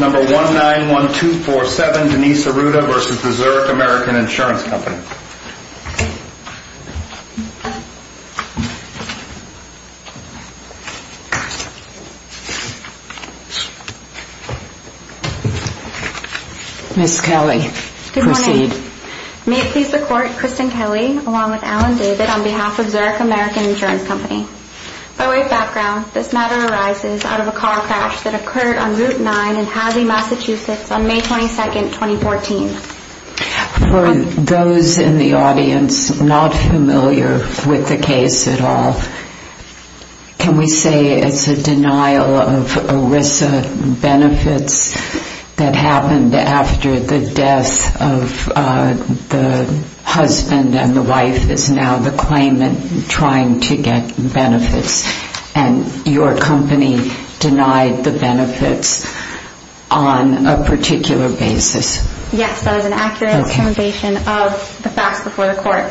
Number 191247 Denise Arruda v. Zurich American Insurance Company. Ms. Kelly, proceed. Good morning. May it please the Court, Kristen Kelly, along with Alan David, on behalf of Zurich American Insurance Company. By way of background, this matter arises out of a car crash that occurred on Route 9 in Hazzy, Massachusetts, on May 22, 2014. For those in the audience not familiar with the case at all, can we say it's a denial of ERISA benefits that happened after the death of the husband and the wife is now the claimant trying to get benefits, and your company denied the benefits on a particular basis? Yes, that is an accurate explanation of the facts before the Court.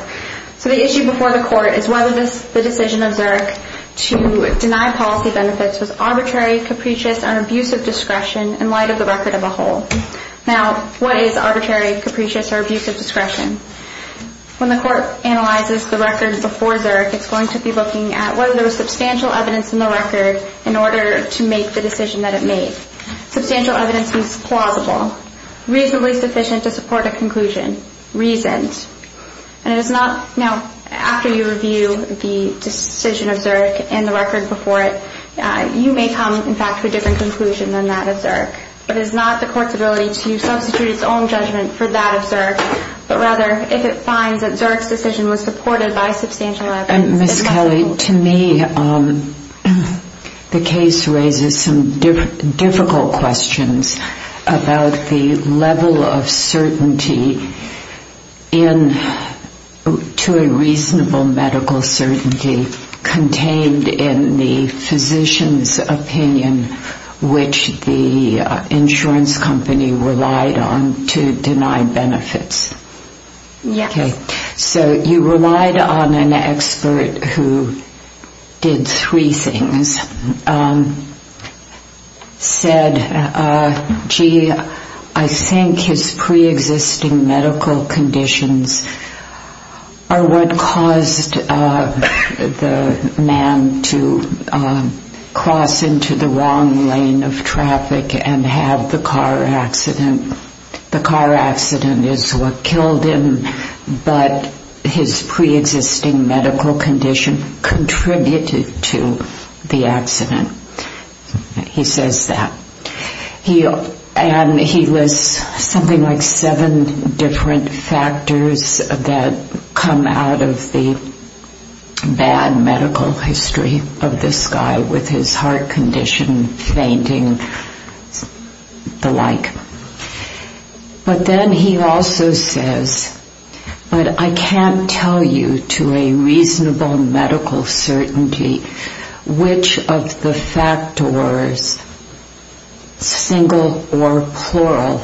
So the issue before the Court is whether the decision of Zurich to deny policy benefits was arbitrary, capricious, or abuse of discretion in light of the record of a whole. Now, what is arbitrary, capricious, or abuse of discretion? When the Court analyzes the records before Zurich, it's going to be looking at whether there was substantial evidence in the record in order to make the decision that it made. Substantial evidence means plausible, reasonably sufficient to support a conclusion, reasoned. Now, after you review the decision of Zurich and the record before it, you may come, in fact, to a different conclusion than that of Zurich. But it is not the Court's ability to substitute its own judgment for that of Zurich, but rather if it finds that Zurich's decision was supported by substantial evidence. Ms. Kelly, to me, the case raises some difficult questions about the level of certainty to a reasonable medical certainty contained in the physician's opinion which the insurance company relied on to deny benefits. So you relied on an expert who did three things, said, gee, I think his preexisting medical conditions are what caused the man to cross into the wrong lane of traffic and have the car accident. The car accident is what killed him, but his preexisting medical condition contributed to the accident. He says that. And he lists something like seven different factors that come out of the bad medical history of this guy with his heart condition fainting, the like. But then he also says, but I can't tell you to a reasonable medical certainty which of the factors, single or plural,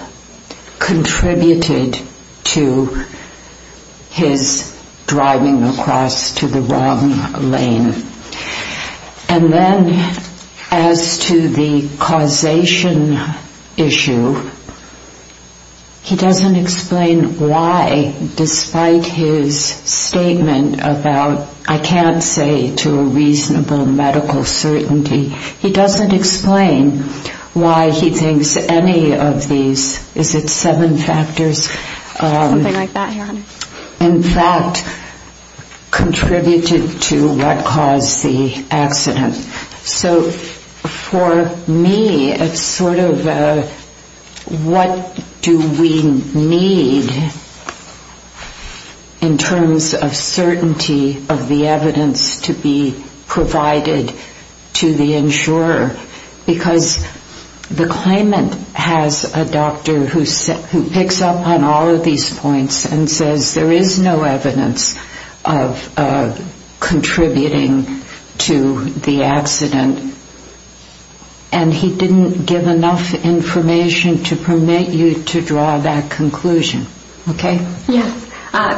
contributed to his driving across to the wrong lane. And then as to the causation issue, he doesn't explain why, despite his statement about, I can't say to a reasonable medical certainty, he doesn't explain why he thinks any of these, is it seven factors? In fact, contributed to what caused the accident. So for me, it's sort of what do we need in terms of certainty of the evidence to be provided to the insurer? Because the claimant has a doctor who picks up on all of these points and says, there is no evidence of contributing to the accident. And he didn't give enough information to permit you to draw that conclusion. Okay? Yes.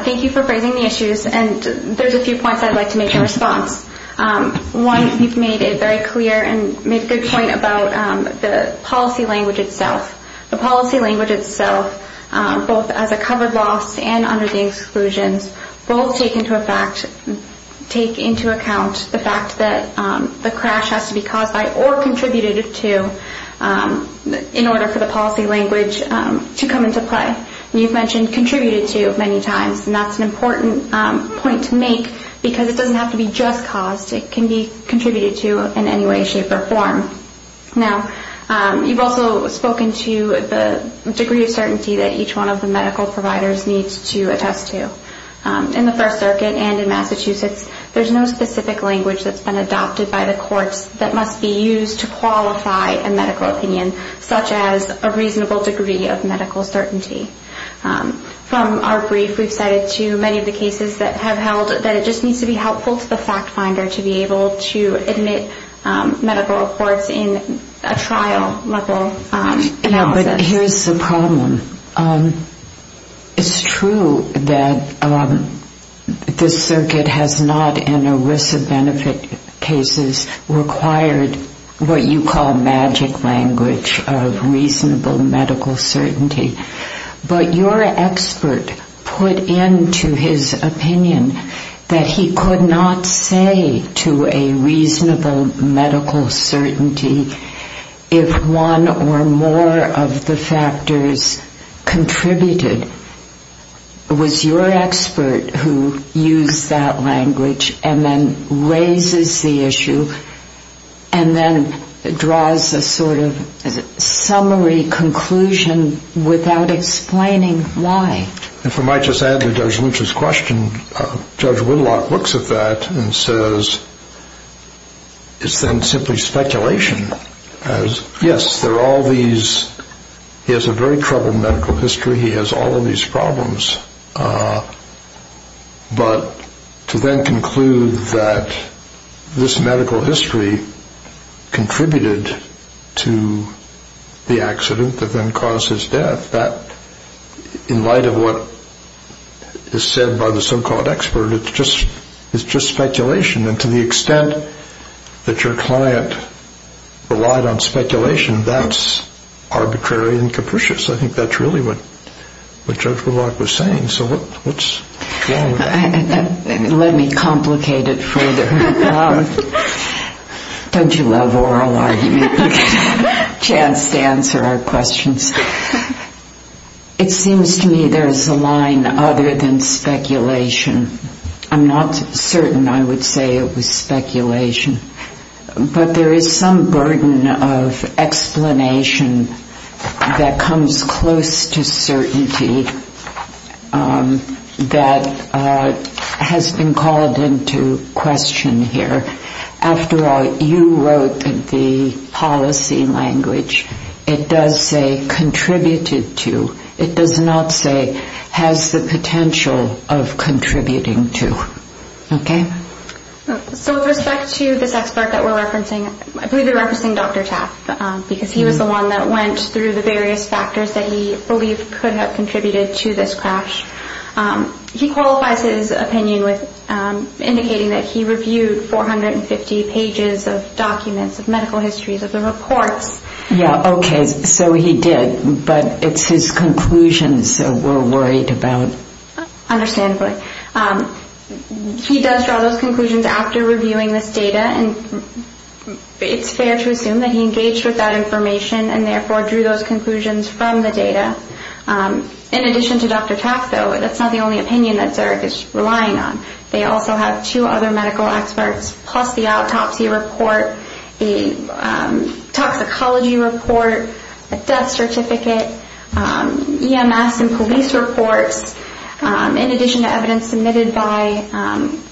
Thank you for raising the issues. And there's a few points I'd like to make in response. One, you've made it very clear and made a good point about the policy language itself. The policy language itself, both as a covered loss and under the exclusions, both take into account the fact that the crash has to be caused by or contributed to in order for the policy language to come into play. And you've mentioned contributed to many times, and that's an important point to make because it doesn't have to be just caused. It can be contributed to in any way, shape, or form. Now, you've also spoken to the degree of certainty that each one of the medical providers needs to attest to. In the First Circuit and in Massachusetts, there's no specific language that's been adopted by the courts that must be used to qualify a medical opinion, such as a reasonable degree of medical certainty. From our brief, we've cited to many of the cases that have held that it just needs to be helpful to the fact finder to be able to admit medical reports in a trial-level analysis. But here's the problem. It's true that this circuit has not, in ERISA benefit cases, required what you call magic language of reasonable medical certainty. But your expert put into his opinion that he could not say to a reasonable medical certainty if one or more of the factors contributed. Was your expert who used that language and then raises the issue and then draws a sort of summary conclusion without explaining why? If I might just add to Judge Luce's question, Judge Whitlock looks at that and says, it's then simply speculation. Yes, he has a very troubled medical history. He has all of these problems. But to then conclude that this medical history contributed to the accident that then caused his death, in light of what is said by the so-called expert, it's just speculation. And to the extent that your client relied on speculation, that's arbitrary and capricious. I think that's really what Judge Whitlock was saying. So what's wrong with that? Let me complicate it further. Don't you love oral argument? You get a chance to answer our questions. It seems to me there's a line other than speculation. I'm not certain I would say it was speculation. But there is some burden of explanation that comes close to certainty that has been called into question here. After all, you wrote that the policy language, it does say contributed to. It does not say has the potential of contributing to. Okay? So with respect to this expert that we're referencing, I believe you're referencing Dr. Taft, because he was the one that went through the various factors that he believed could have contributed to this crash. He qualifies his opinion with indicating that he reviewed 450 pages of documents, of medical histories, of the reports. Yeah, okay, so he did. But it's his conclusions that we're worried about. Understandably. He does draw those conclusions after reviewing this data, and it's fair to assume that he engaged with that information and therefore drew those conclusions from the data. In addition to Dr. Taft, though, that's not the only opinion that Zerg is relying on. They also have two other medical experts, plus the autopsy report, a toxicology report, a death certificate, EMS and police reports, in addition to evidence submitted by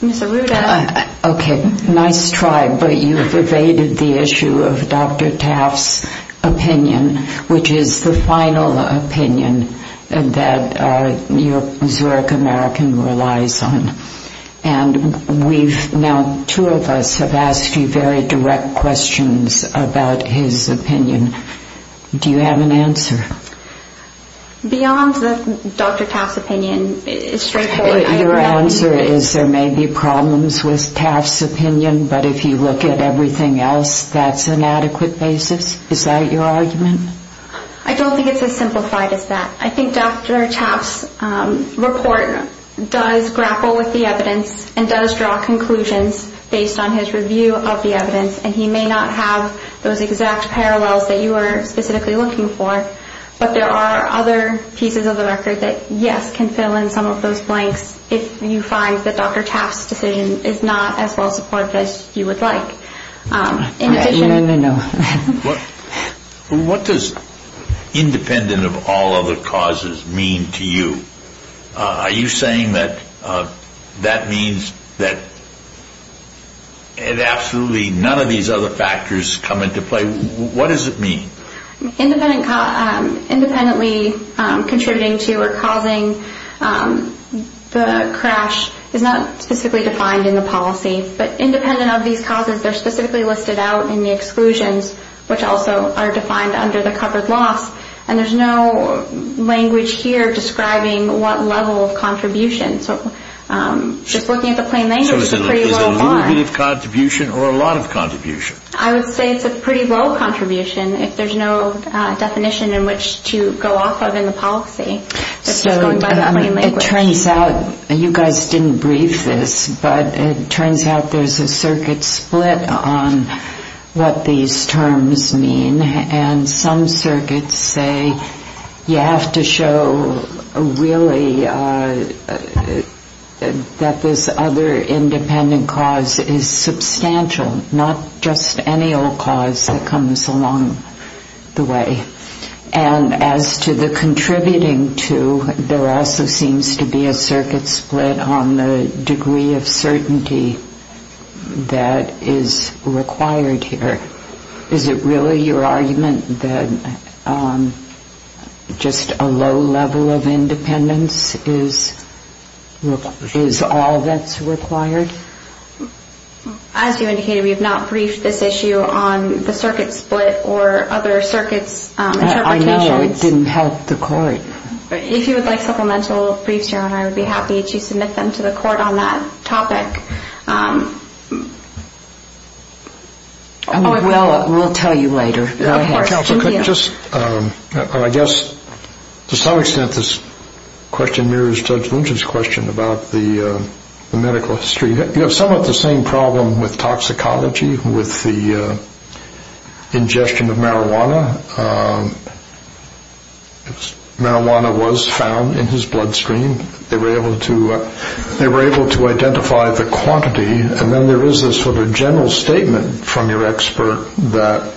Ms. Arruda. Okay, nice try, but you've evaded the issue of Dr. Taft's opinion, which is the final opinion that your Zerg American relies on. And we've now, two of us have asked you very direct questions about his opinion. Do you have an answer? Beyond Dr. Taft's opinion, frankly, I do not. Your answer is there may be problems with Taft's opinion, but if you look at everything else, that's an adequate basis? Is that your argument? I don't think it's as simplified as that. I think Dr. Taft's report does grapple with the evidence and does draw conclusions based on his review of the evidence, and he may not have those exact parallels that you are specifically looking for, but there are other pieces of the record that, yes, can fill in some of those blanks if you find that Dr. Taft's decision is not as well supported as you would like. No, no, no. What does independent of all other causes mean to you? Are you saying that that means that absolutely none of these other factors come into play? What does it mean? Independently contributing to or causing the crash is not specifically defined in the policy, but independent of these causes, they're specifically listed out in the exclusions, which also are defined under the covered loss, and there's no language here describing what level of contribution. So just looking at the plain language is a pretty low bar. So is it a little bit of contribution or a lot of contribution? I would say it's a pretty low contribution if there's no definition in which to go off of in the policy. It turns out, you guys didn't brief this, but it turns out there's a circuit split on what these terms mean, and some circuits say you have to show really that this other independent cause is substantial, not just any old cause that comes along the way. And as to the contributing to, there also seems to be a circuit split on the degree of certainty that is required here. Is it really your argument that just a low level of independence is all that's required? As you indicated, we have not briefed this issue on the circuit split or other circuits interpretations. I know. It didn't help the court. If you would like supplemental briefs, Your Honor, I would be happy to submit them to the court on that topic. We'll tell you later. Counselor, I guess to some extent this question mirrors Judge Lynch's question about the medical history. You have somewhat the same problem with toxicology with the ingestion of marijuana. Marijuana was found in his bloodstream. They were able to identify the quantity, and then there is this sort of general statement from your expert that,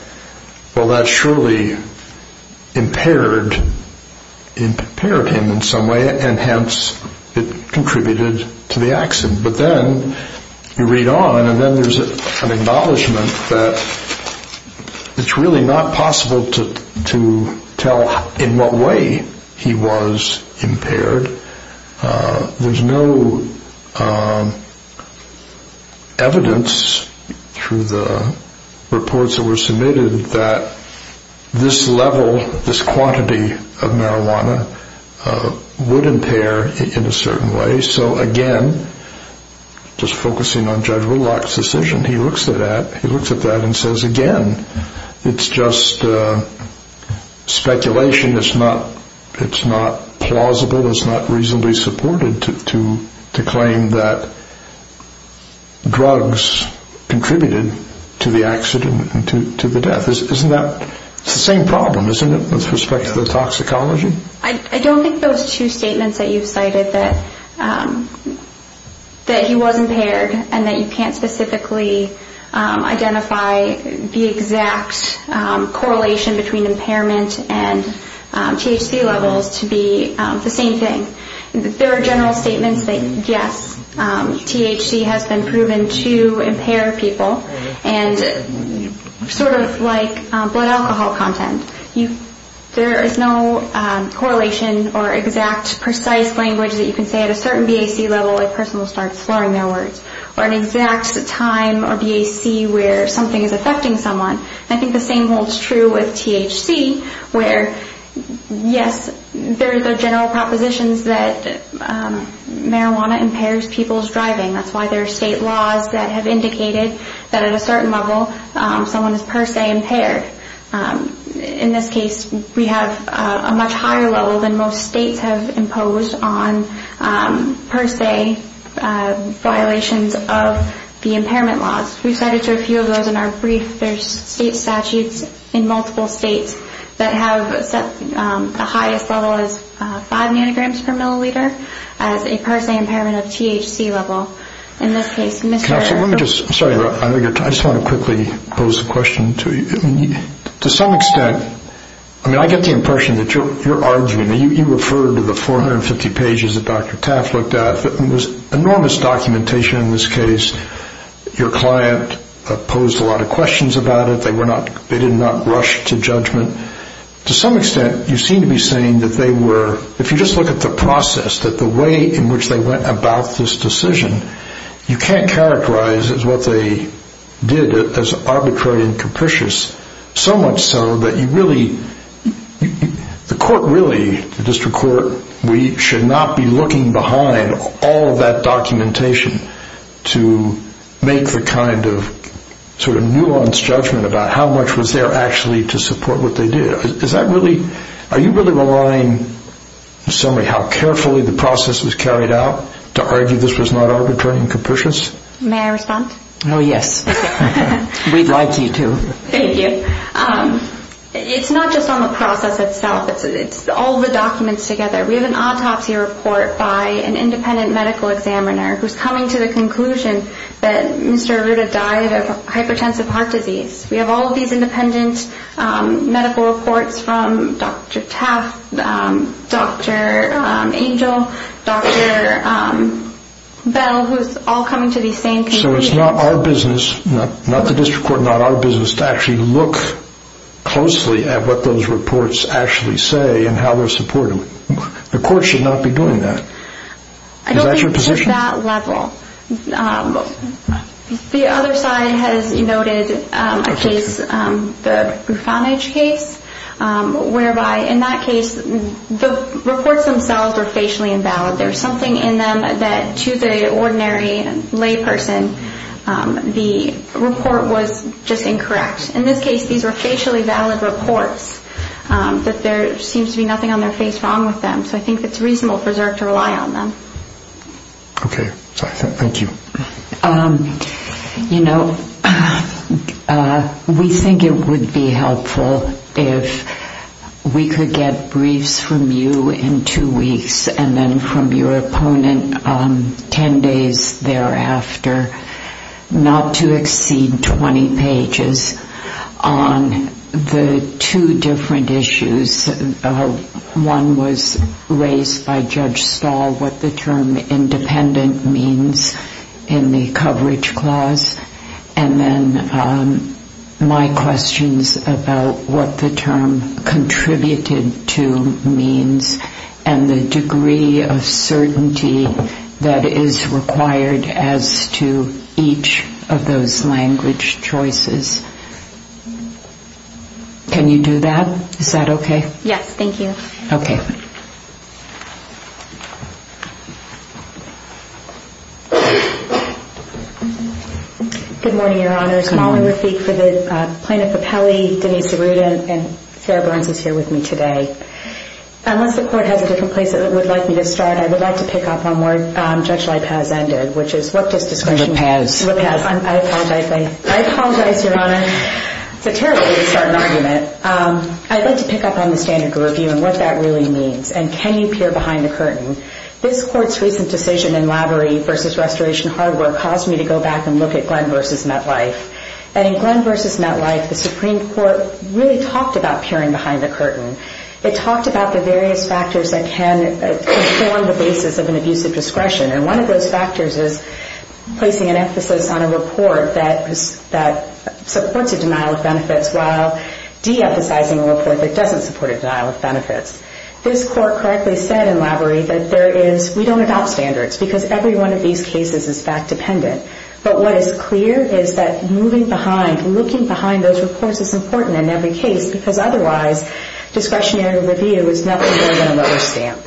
well, that surely impaired him in some way, and hence it contributed to the accident. But then you read on, and then there's an acknowledgment that it's really not possible to tell in what way he was impaired. There's no evidence through the reports that were submitted that this level, this quantity of marijuana would impair in a certain way. So, again, just focusing on Judge Whitlock's decision, he looks at that and says, again, it's just speculation. It's not plausible. It's not reasonably supported to claim that drugs contributed to the accident and to the death. It's the same problem, isn't it, with respect to the toxicology? I don't think those two statements that you've cited, that he was impaired and that you can't specifically identify the exact correlation between impairment and THC levels to be the same thing. There are general statements that, yes, THC has been proven to impair people, and sort of like blood alcohol content. There is no correlation or exact precise language that you can say at a certain BAC level a person will start slurring their words, or an exact time or BAC where something is affecting someone. I think the same holds true with THC where, yes, there are general propositions that marijuana impairs people's driving. That's why there are state laws that have indicated that at a certain level someone is per se impaired. In this case, we have a much higher level than most states have imposed on per se violations of the impairment laws. We cited a few of those in our brief. There are state statutes in multiple states that have set the highest level as five nanograms per milliliter as a per se impairment of THC level. In this case, Mr. I just want to quickly pose the question to you. To some extent, I mean, I get the impression that you're arguing. You referred to the 450 pages that Dr. Taft looked at. It was enormous documentation in this case. Your client posed a lot of questions about it. They did not rush to judgment. To some extent, you seem to be saying that they were, if you just look at the process, that the way in which they went about this decision, you can't characterize as what they did as arbitrary and capricious, so much so that you really, the court really, the district court, we should not be looking behind all of that documentation to make the kind of sort of nuanced judgment about how much was there actually to support what they did. Is that really, are you really relying, in summary, how carefully the process was carried out to argue this was not arbitrary and capricious? May I respond? Oh, yes. We'd like you to. Thank you. It's not just on the process itself. It's all the documents together. We have an autopsy report by an independent medical examiner who's coming to the conclusion that Mr. Arruda died of hypertensive heart disease. We have all of these independent medical reports from Dr. Taft, Dr. Angel, Dr. Bell, who's all coming to the same conclusion. So it's not our business, not the district court, not our business, to actually look closely at what those reports actually say and how they're supported. The court should not be doing that. Is that your position? I don't think it's at that level. The other side has noted a case, the Refoundage case, whereby in that case the reports themselves are facially invalid. There's something in them that to the ordinary layperson the report was just incorrect. In this case, these were facially valid reports, that there seems to be nothing on their face wrong with them. So I think it's reasonable for Zerk to rely on them. Okay. Thank you. You know, we think it would be helpful if we could get briefs from you in two weeks and then from your opponent ten days thereafter, not to exceed 20 pages on the two different issues. One was raised by Judge Stahl, what the term independent means in the coverage clause. And then my questions about what the term contributed to means and the degree of certainty that is required as to each of those language choices. Can you do that? Is that okay? Yes, thank you. Okay. Good morning, Your Honors. Good morning. I'm here to speak for the plaintiff, Capelli, Denise Arruda, and Sarah Burns is here with me today. Unless the Court has a different place it would like me to start, I would like to pick up on where Judge LaPaz ended, which is what does discretion mean? LaPaz. LaPaz. I apologize. I apologize, Your Honor. It's a terrible way to start an argument. I'd like to pick up on the standard of review and what that really means, and can you peer behind the curtain. This Court's recent decision in Lavery v. Restoration Hardware caused me to go back and look at Glenn v. MetLife. And in Glenn v. MetLife the Supreme Court really talked about peering behind the curtain. It talked about the various factors that can form the basis of an abusive discretion, and one of those factors is placing an emphasis on a report that supports a denial of benefits while de-emphasizing a report that doesn't support a denial of benefits. This Court correctly said in Lavery that there is we don't adopt standards because every one of these cases is fact-dependent. But what is clear is that moving behind, looking behind those reports is important in every case because otherwise discretionary review is nothing more than a rubber stamp.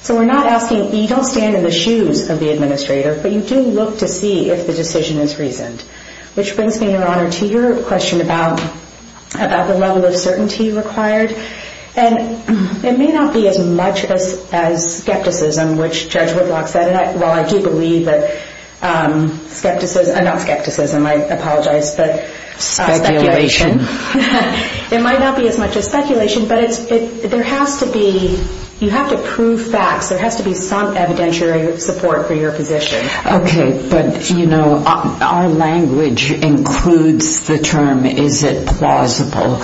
So we're not asking you don't stand in the shoes of the administrator, but you do look to see if the decision is reasoned, which brings me, Your Honor, to your question about the level of certainty required. And it may not be as much as skepticism, which Judge Whitlock said, and while I do believe that skepticism, not skepticism, I apologize, but speculation. It might not be as much as speculation, but there has to be you have to prove facts. There has to be some evidentiary support for your position. Okay, but, you know, our language includes the term is it plausible?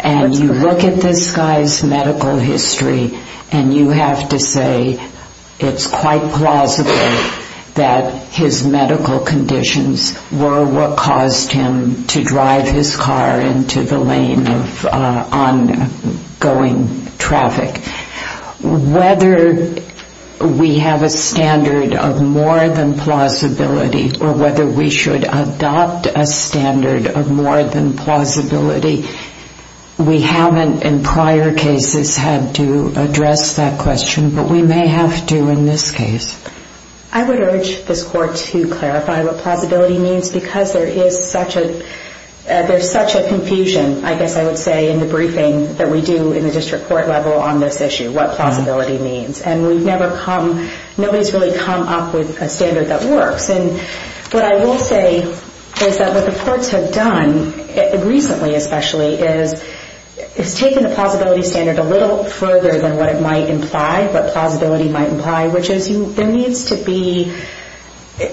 And you look at this guy's medical history, and you have to say it's quite plausible that his medical conditions were what caused him to drive his car into the lane of ongoing traffic. Whether we have a standard of more than plausibility or whether we should adopt a standard of more than plausibility, we haven't in prior cases had to address that question, but we may have to in this case. I would urge this Court to clarify what plausibility means because there is such a confusion, I guess I would say, in the briefing that we do in the district court level on this issue, what plausibility means. And we've never come, nobody's really come up with a standard that works. And what I will say is that what the courts have done, recently especially, is taken the plausibility standard a little further than what it might imply, what plausibility might imply, which is there needs to be,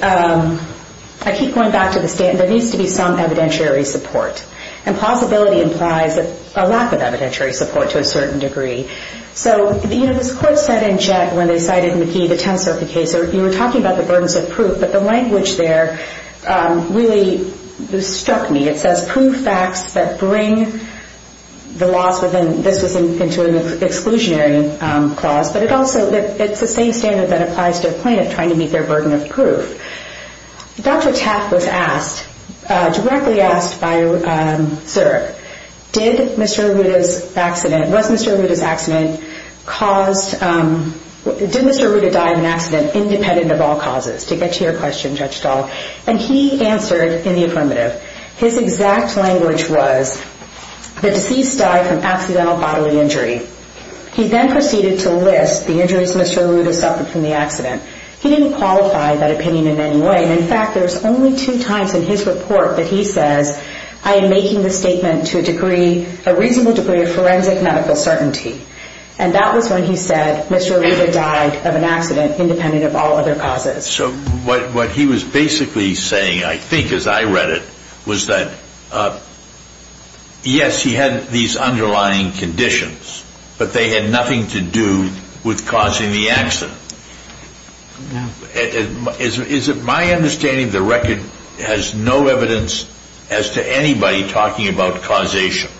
I keep going back to the standard, there needs to be some evidentiary support. And plausibility implies a lack of evidentiary support to a certain degree. So, you know, this Court said in JET when they cited McKee, the tensor of the case, you were talking about the burdens of proof, but the language there really struck me. It says proof facts that bring the laws within, this was into an exclusionary clause, but it also, it's the same standard that applies to a plaintiff trying to meet their burden of proof. Dr. Taft was asked, directly asked by Sir, did Mr. Arruda's accident, was Mr. Arruda's accident caused, did Mr. Arruda die of an accident independent of all causes? To get to your question, Judge Stahl. And he answered in the affirmative. His exact language was, the deceased died from accidental bodily injury. He then proceeded to list the injuries Mr. Arruda suffered from the accident. He didn't qualify that opinion in any way. In fact, there's only two times in his report that he says, I am making this statement to a degree, a reasonable degree of forensic medical certainty. And that was when he said Mr. Arruda died of an accident independent of all other causes. So what he was basically saying, I think as I read it, was that yes, he had these underlying conditions, but they had nothing to do with causing the accident. Is it my understanding the record has no evidence as to anybody talking about causation?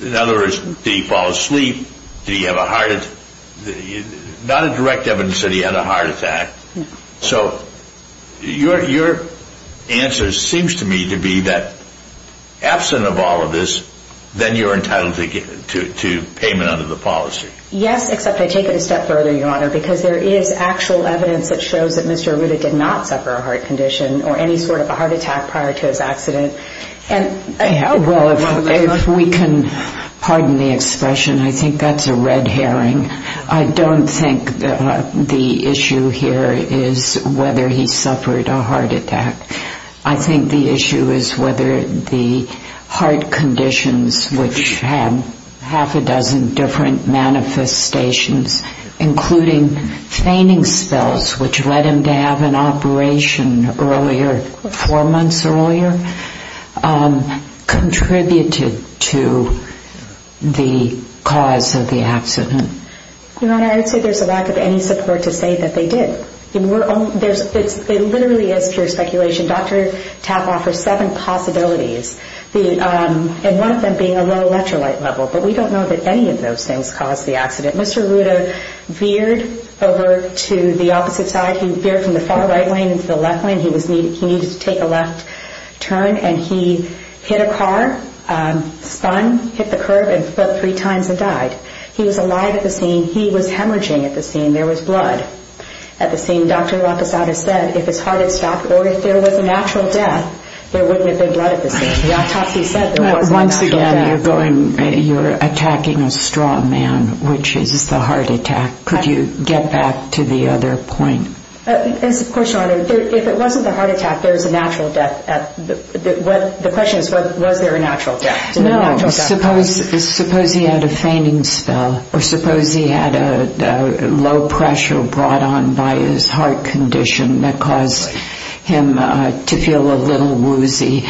In other words, did he fall asleep? Did he have a heart attack? Not a direct evidence that he had a heart attack. So your answer seems to me to be that absent of all of this, then you're entitled to payment under the policy. Yes, except I take it a step further, Your Honor, because there is actual evidence that shows that Mr. Arruda did not suffer a heart condition or any sort of a heart attack prior to his accident. Well, if we can pardon the expression, I think that's a red herring. I don't think the issue here is whether he suffered a heart attack. I think the issue is whether the heart conditions, which had half a dozen different manifestations, including fainting spells, which led him to have an operation four months earlier, contributed to the cause of the accident. Your Honor, I would say there's a lack of any support to say that they did. It literally is pure speculation. Dr. Tapp offers seven possibilities, and one of them being a low electrolyte level. But we don't know that any of those things caused the accident. Mr. Arruda veered over to the opposite side. He veered from the far right lane into the left lane. He needed to take a left turn, and he hit a car, spun, hit the curb, and flipped three times and died. He was alive at the scene. He was hemorrhaging at the scene. There was blood at the scene. Dr. Lapisada said if his heart had stopped or if there was a natural death, there wouldn't have been blood at the scene. Dr. Tapp, he said there was a natural death. Once again, you're attacking a straw man, which is the heart attack. Could you get back to the other point? Of course, Your Honor. If it wasn't the heart attack, there's a natural death. The question is, was there a natural death? No. Suppose he had a fainting spell, or suppose he had a low pressure brought on by his heart condition that caused him to feel a little woozy,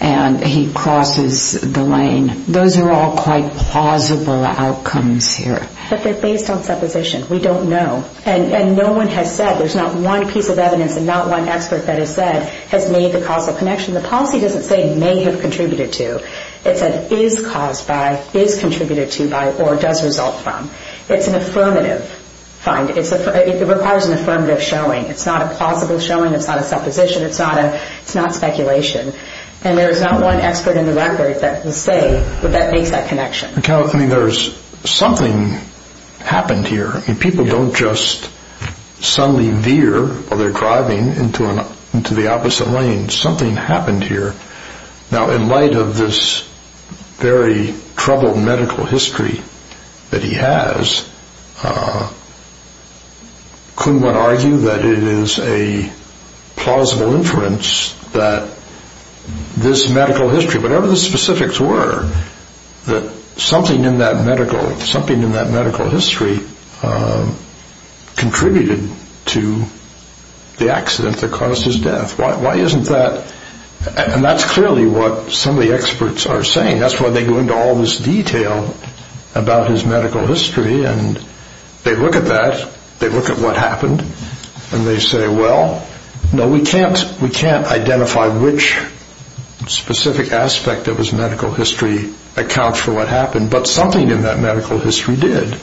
and he crosses the lane. Those are all quite plausible outcomes here. But they're based on supposition. We don't know. And no one has said, there's not one piece of evidence and not one expert that has said has made the causal connection. The policy doesn't say may have contributed to. It said is caused by, is contributed to by, or does result from. It's an affirmative. It requires an affirmative showing. It's not a plausible showing. It's not a supposition. It's not speculation. And there's not one expert in the record that will say that that makes that connection. There's something happened here. People don't just suddenly veer while they're driving into the opposite lane. Something happened here. Now, in light of this very troubled medical history that he has, couldn't one argue that it is a plausible inference that this medical history, whatever the specifics were, that something in that medical history contributed to the accident that caused his death. Why isn't that? And that's clearly what some of the experts are saying. That's why they go into all this detail about his medical history, and they look at that, they look at what happened, and they say, well, no, we can't identify which specific aspect of his medical history accounts for what happened, but something in that medical history did.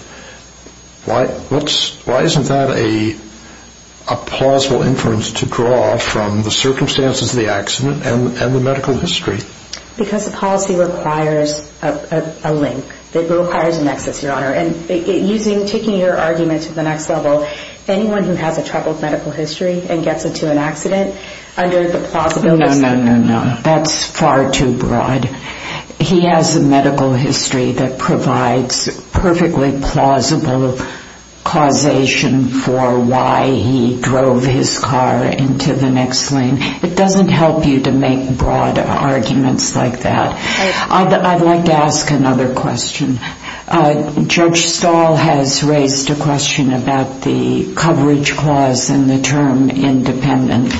Why isn't that a plausible inference to draw from the circumstances of the accident and the medical history? Because the policy requires a link. It requires a nexus, Your Honor. And taking your argument to the next level, anyone who has a troubled medical history and gets into an accident, under the plausibility... No, no, no, no, no. That's far too broad. He has a medical history that provides perfectly plausible causation for why he drove his car into the next lane. It doesn't help you to make broad arguments like that. I'd like to ask another question. Judge Stahl has raised a question about the coverage clause and the term independent.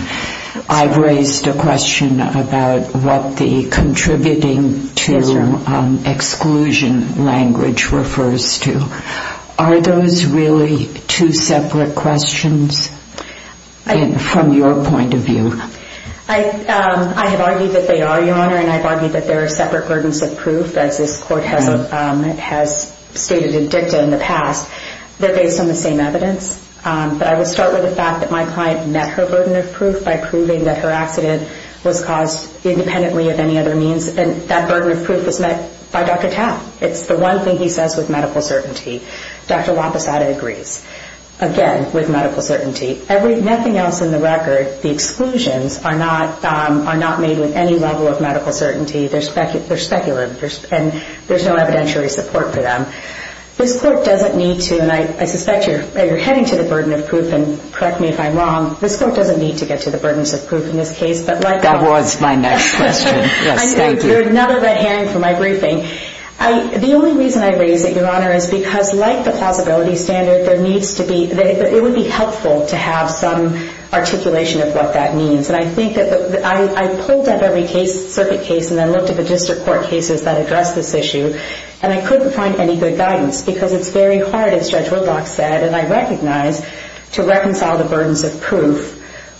I've raised a question about what the contributing to exclusion language refers to. Are those really two separate questions from your point of view? I have argued that they are, Your Honor, and I've argued that there are separate burdens of proof, as this Court has stated in dicta in the past. They're based on the same evidence. But I would start with the fact that my client met her burden of proof by proving that her accident was caused independently of any other means, and that burden of proof was met by Dr. Tao. It's the one thing he says with medical certainty. Dr. Wampasada agrees, again, with medical certainty. Nothing else in the record, the exclusions, are not made with any level of medical certainty. They're specular, and there's no evidentiary support for them. This Court doesn't need to, and I suspect you're heading to the burden of proof, and correct me if I'm wrong, this Court doesn't need to get to the burdens of proof in this case. That was my next question. I know. You're another red herring for my briefing. The only reason I raise it, Your Honor, is because, like the plausibility standard, it would be helpful to have some articulation of what that means. And I pulled up every circuit case and then looked at the district court cases that address this issue, and I couldn't find any good guidance because it's very hard, as Judge Woodlock said, and I recognize, to reconcile the burdens of proof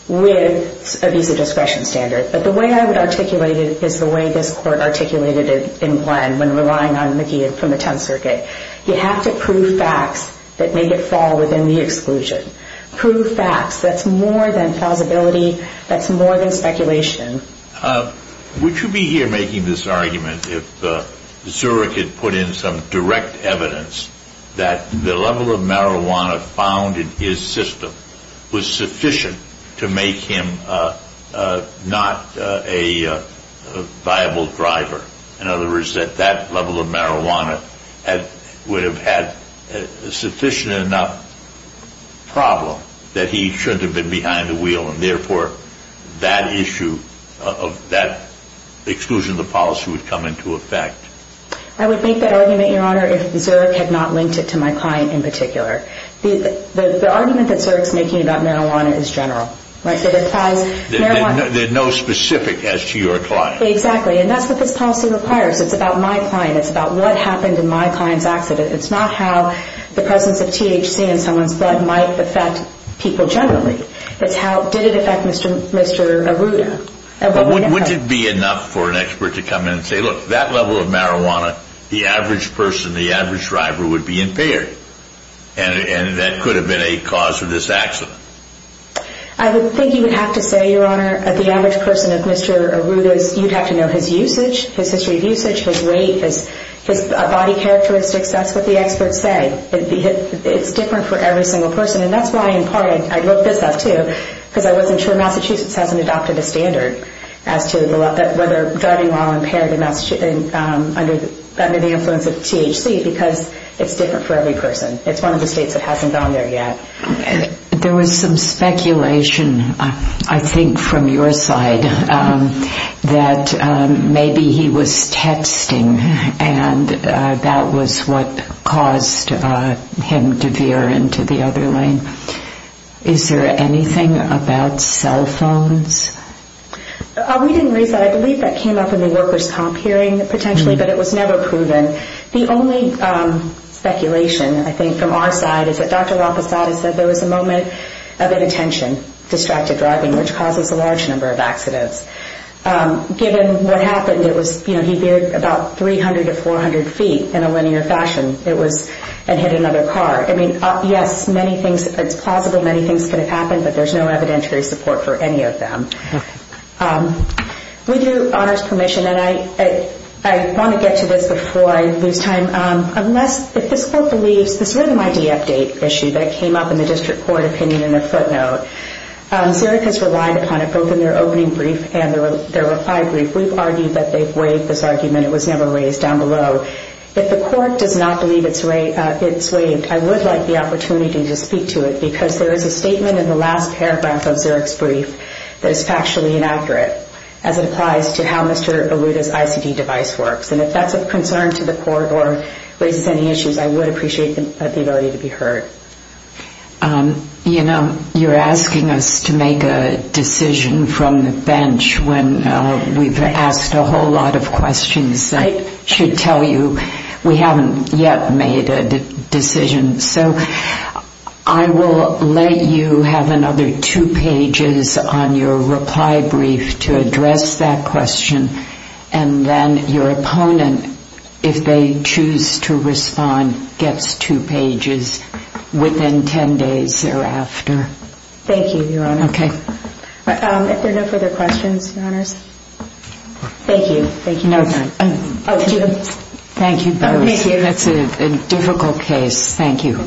with a visa discretion standard. But the way I would articulate it is the way this Court articulated it in Glenn when relying on McGee from the 10th Circuit. You have to prove facts that make it fall within the exclusion. Prove facts. That's more than plausibility. That's more than speculation. Would you be here making this argument if Zurich had put in some direct evidence that the level of marijuana found in his system was sufficient to make him not a viable driver? In other words, that that level of marijuana would have had a sufficient enough problem that he shouldn't have been behind the wheel and therefore that issue of that exclusion of the policy would come into effect. I would make that argument, Your Honor, if Zurich had not linked it to my client in particular. The argument that Zurich's making about marijuana is general. There's no specific as to your client. Exactly. And that's what this policy requires. It's about my client. It's about what happened in my client's accident. It's not how the presence of THC in someone's blood might affect people generally. It's how did it affect Mr. Arruda. Wouldn't it be enough for an expert to come in and say, look, that level of marijuana, the average person, the average driver would be impaired. And that could have been a cause for this accident. I would think you would have to say, Your Honor, the average person of Mr. Arruda's, you'd have to know his usage, his history of usage, his weight, his body characteristics. That's what the experts say. It's different for every single person. And that's why, in part, I broke this up too because I wasn't sure Massachusetts hasn't adopted a standard as to whether driving while impaired under the influence of THC because it's different for every person. It's one of the states that hasn't gone there yet. There was some speculation, I think, from your side that maybe he was texting and that was what caused him to veer into the other lane. Is there anything about cell phones? We didn't raise that. I believe that came up in the workers' comp hearing, potentially, but it was never proven. The only speculation, I think, from our side is that Dr. Raposada said there was a moment of inattention, distracted driving, which causes a large number of accidents. Given what happened, he veered about 300 to 400 feet in a linear fashion and hit another car. Yes, it's plausible many things could have happened, but there's no evidentiary support for any of them. With your Honor's permission, and I want to get to this before I lose time, if this Court believes this written ID update issue that came up in the District Court opinion in the footnote, Zurich has relied upon it both in their opening brief and their reply brief. We've argued that they've waived this argument. It was never raised down below. If the Court does not believe it's waived, I would like the opportunity to speak to it because there is a statement in the last paragraph of Zurich's brief that is factually inaccurate as it applies to how Mr. Aluta's ICD device works. If that's of concern to the Court or raises any issues, I would appreciate the ability to be heard. You're asking us to make a decision from the bench when we've asked a whole lot of questions that should tell you we haven't yet made a decision. So I will let you have another two pages on your reply brief to address that question, and then your opponent, if they choose to respond, gets two pages within ten days thereafter. Thank you, Your Honor. Okay. If there are no further questions, Your Honors. Thank you. No time. Thank you. That's a difficult case. Thank you.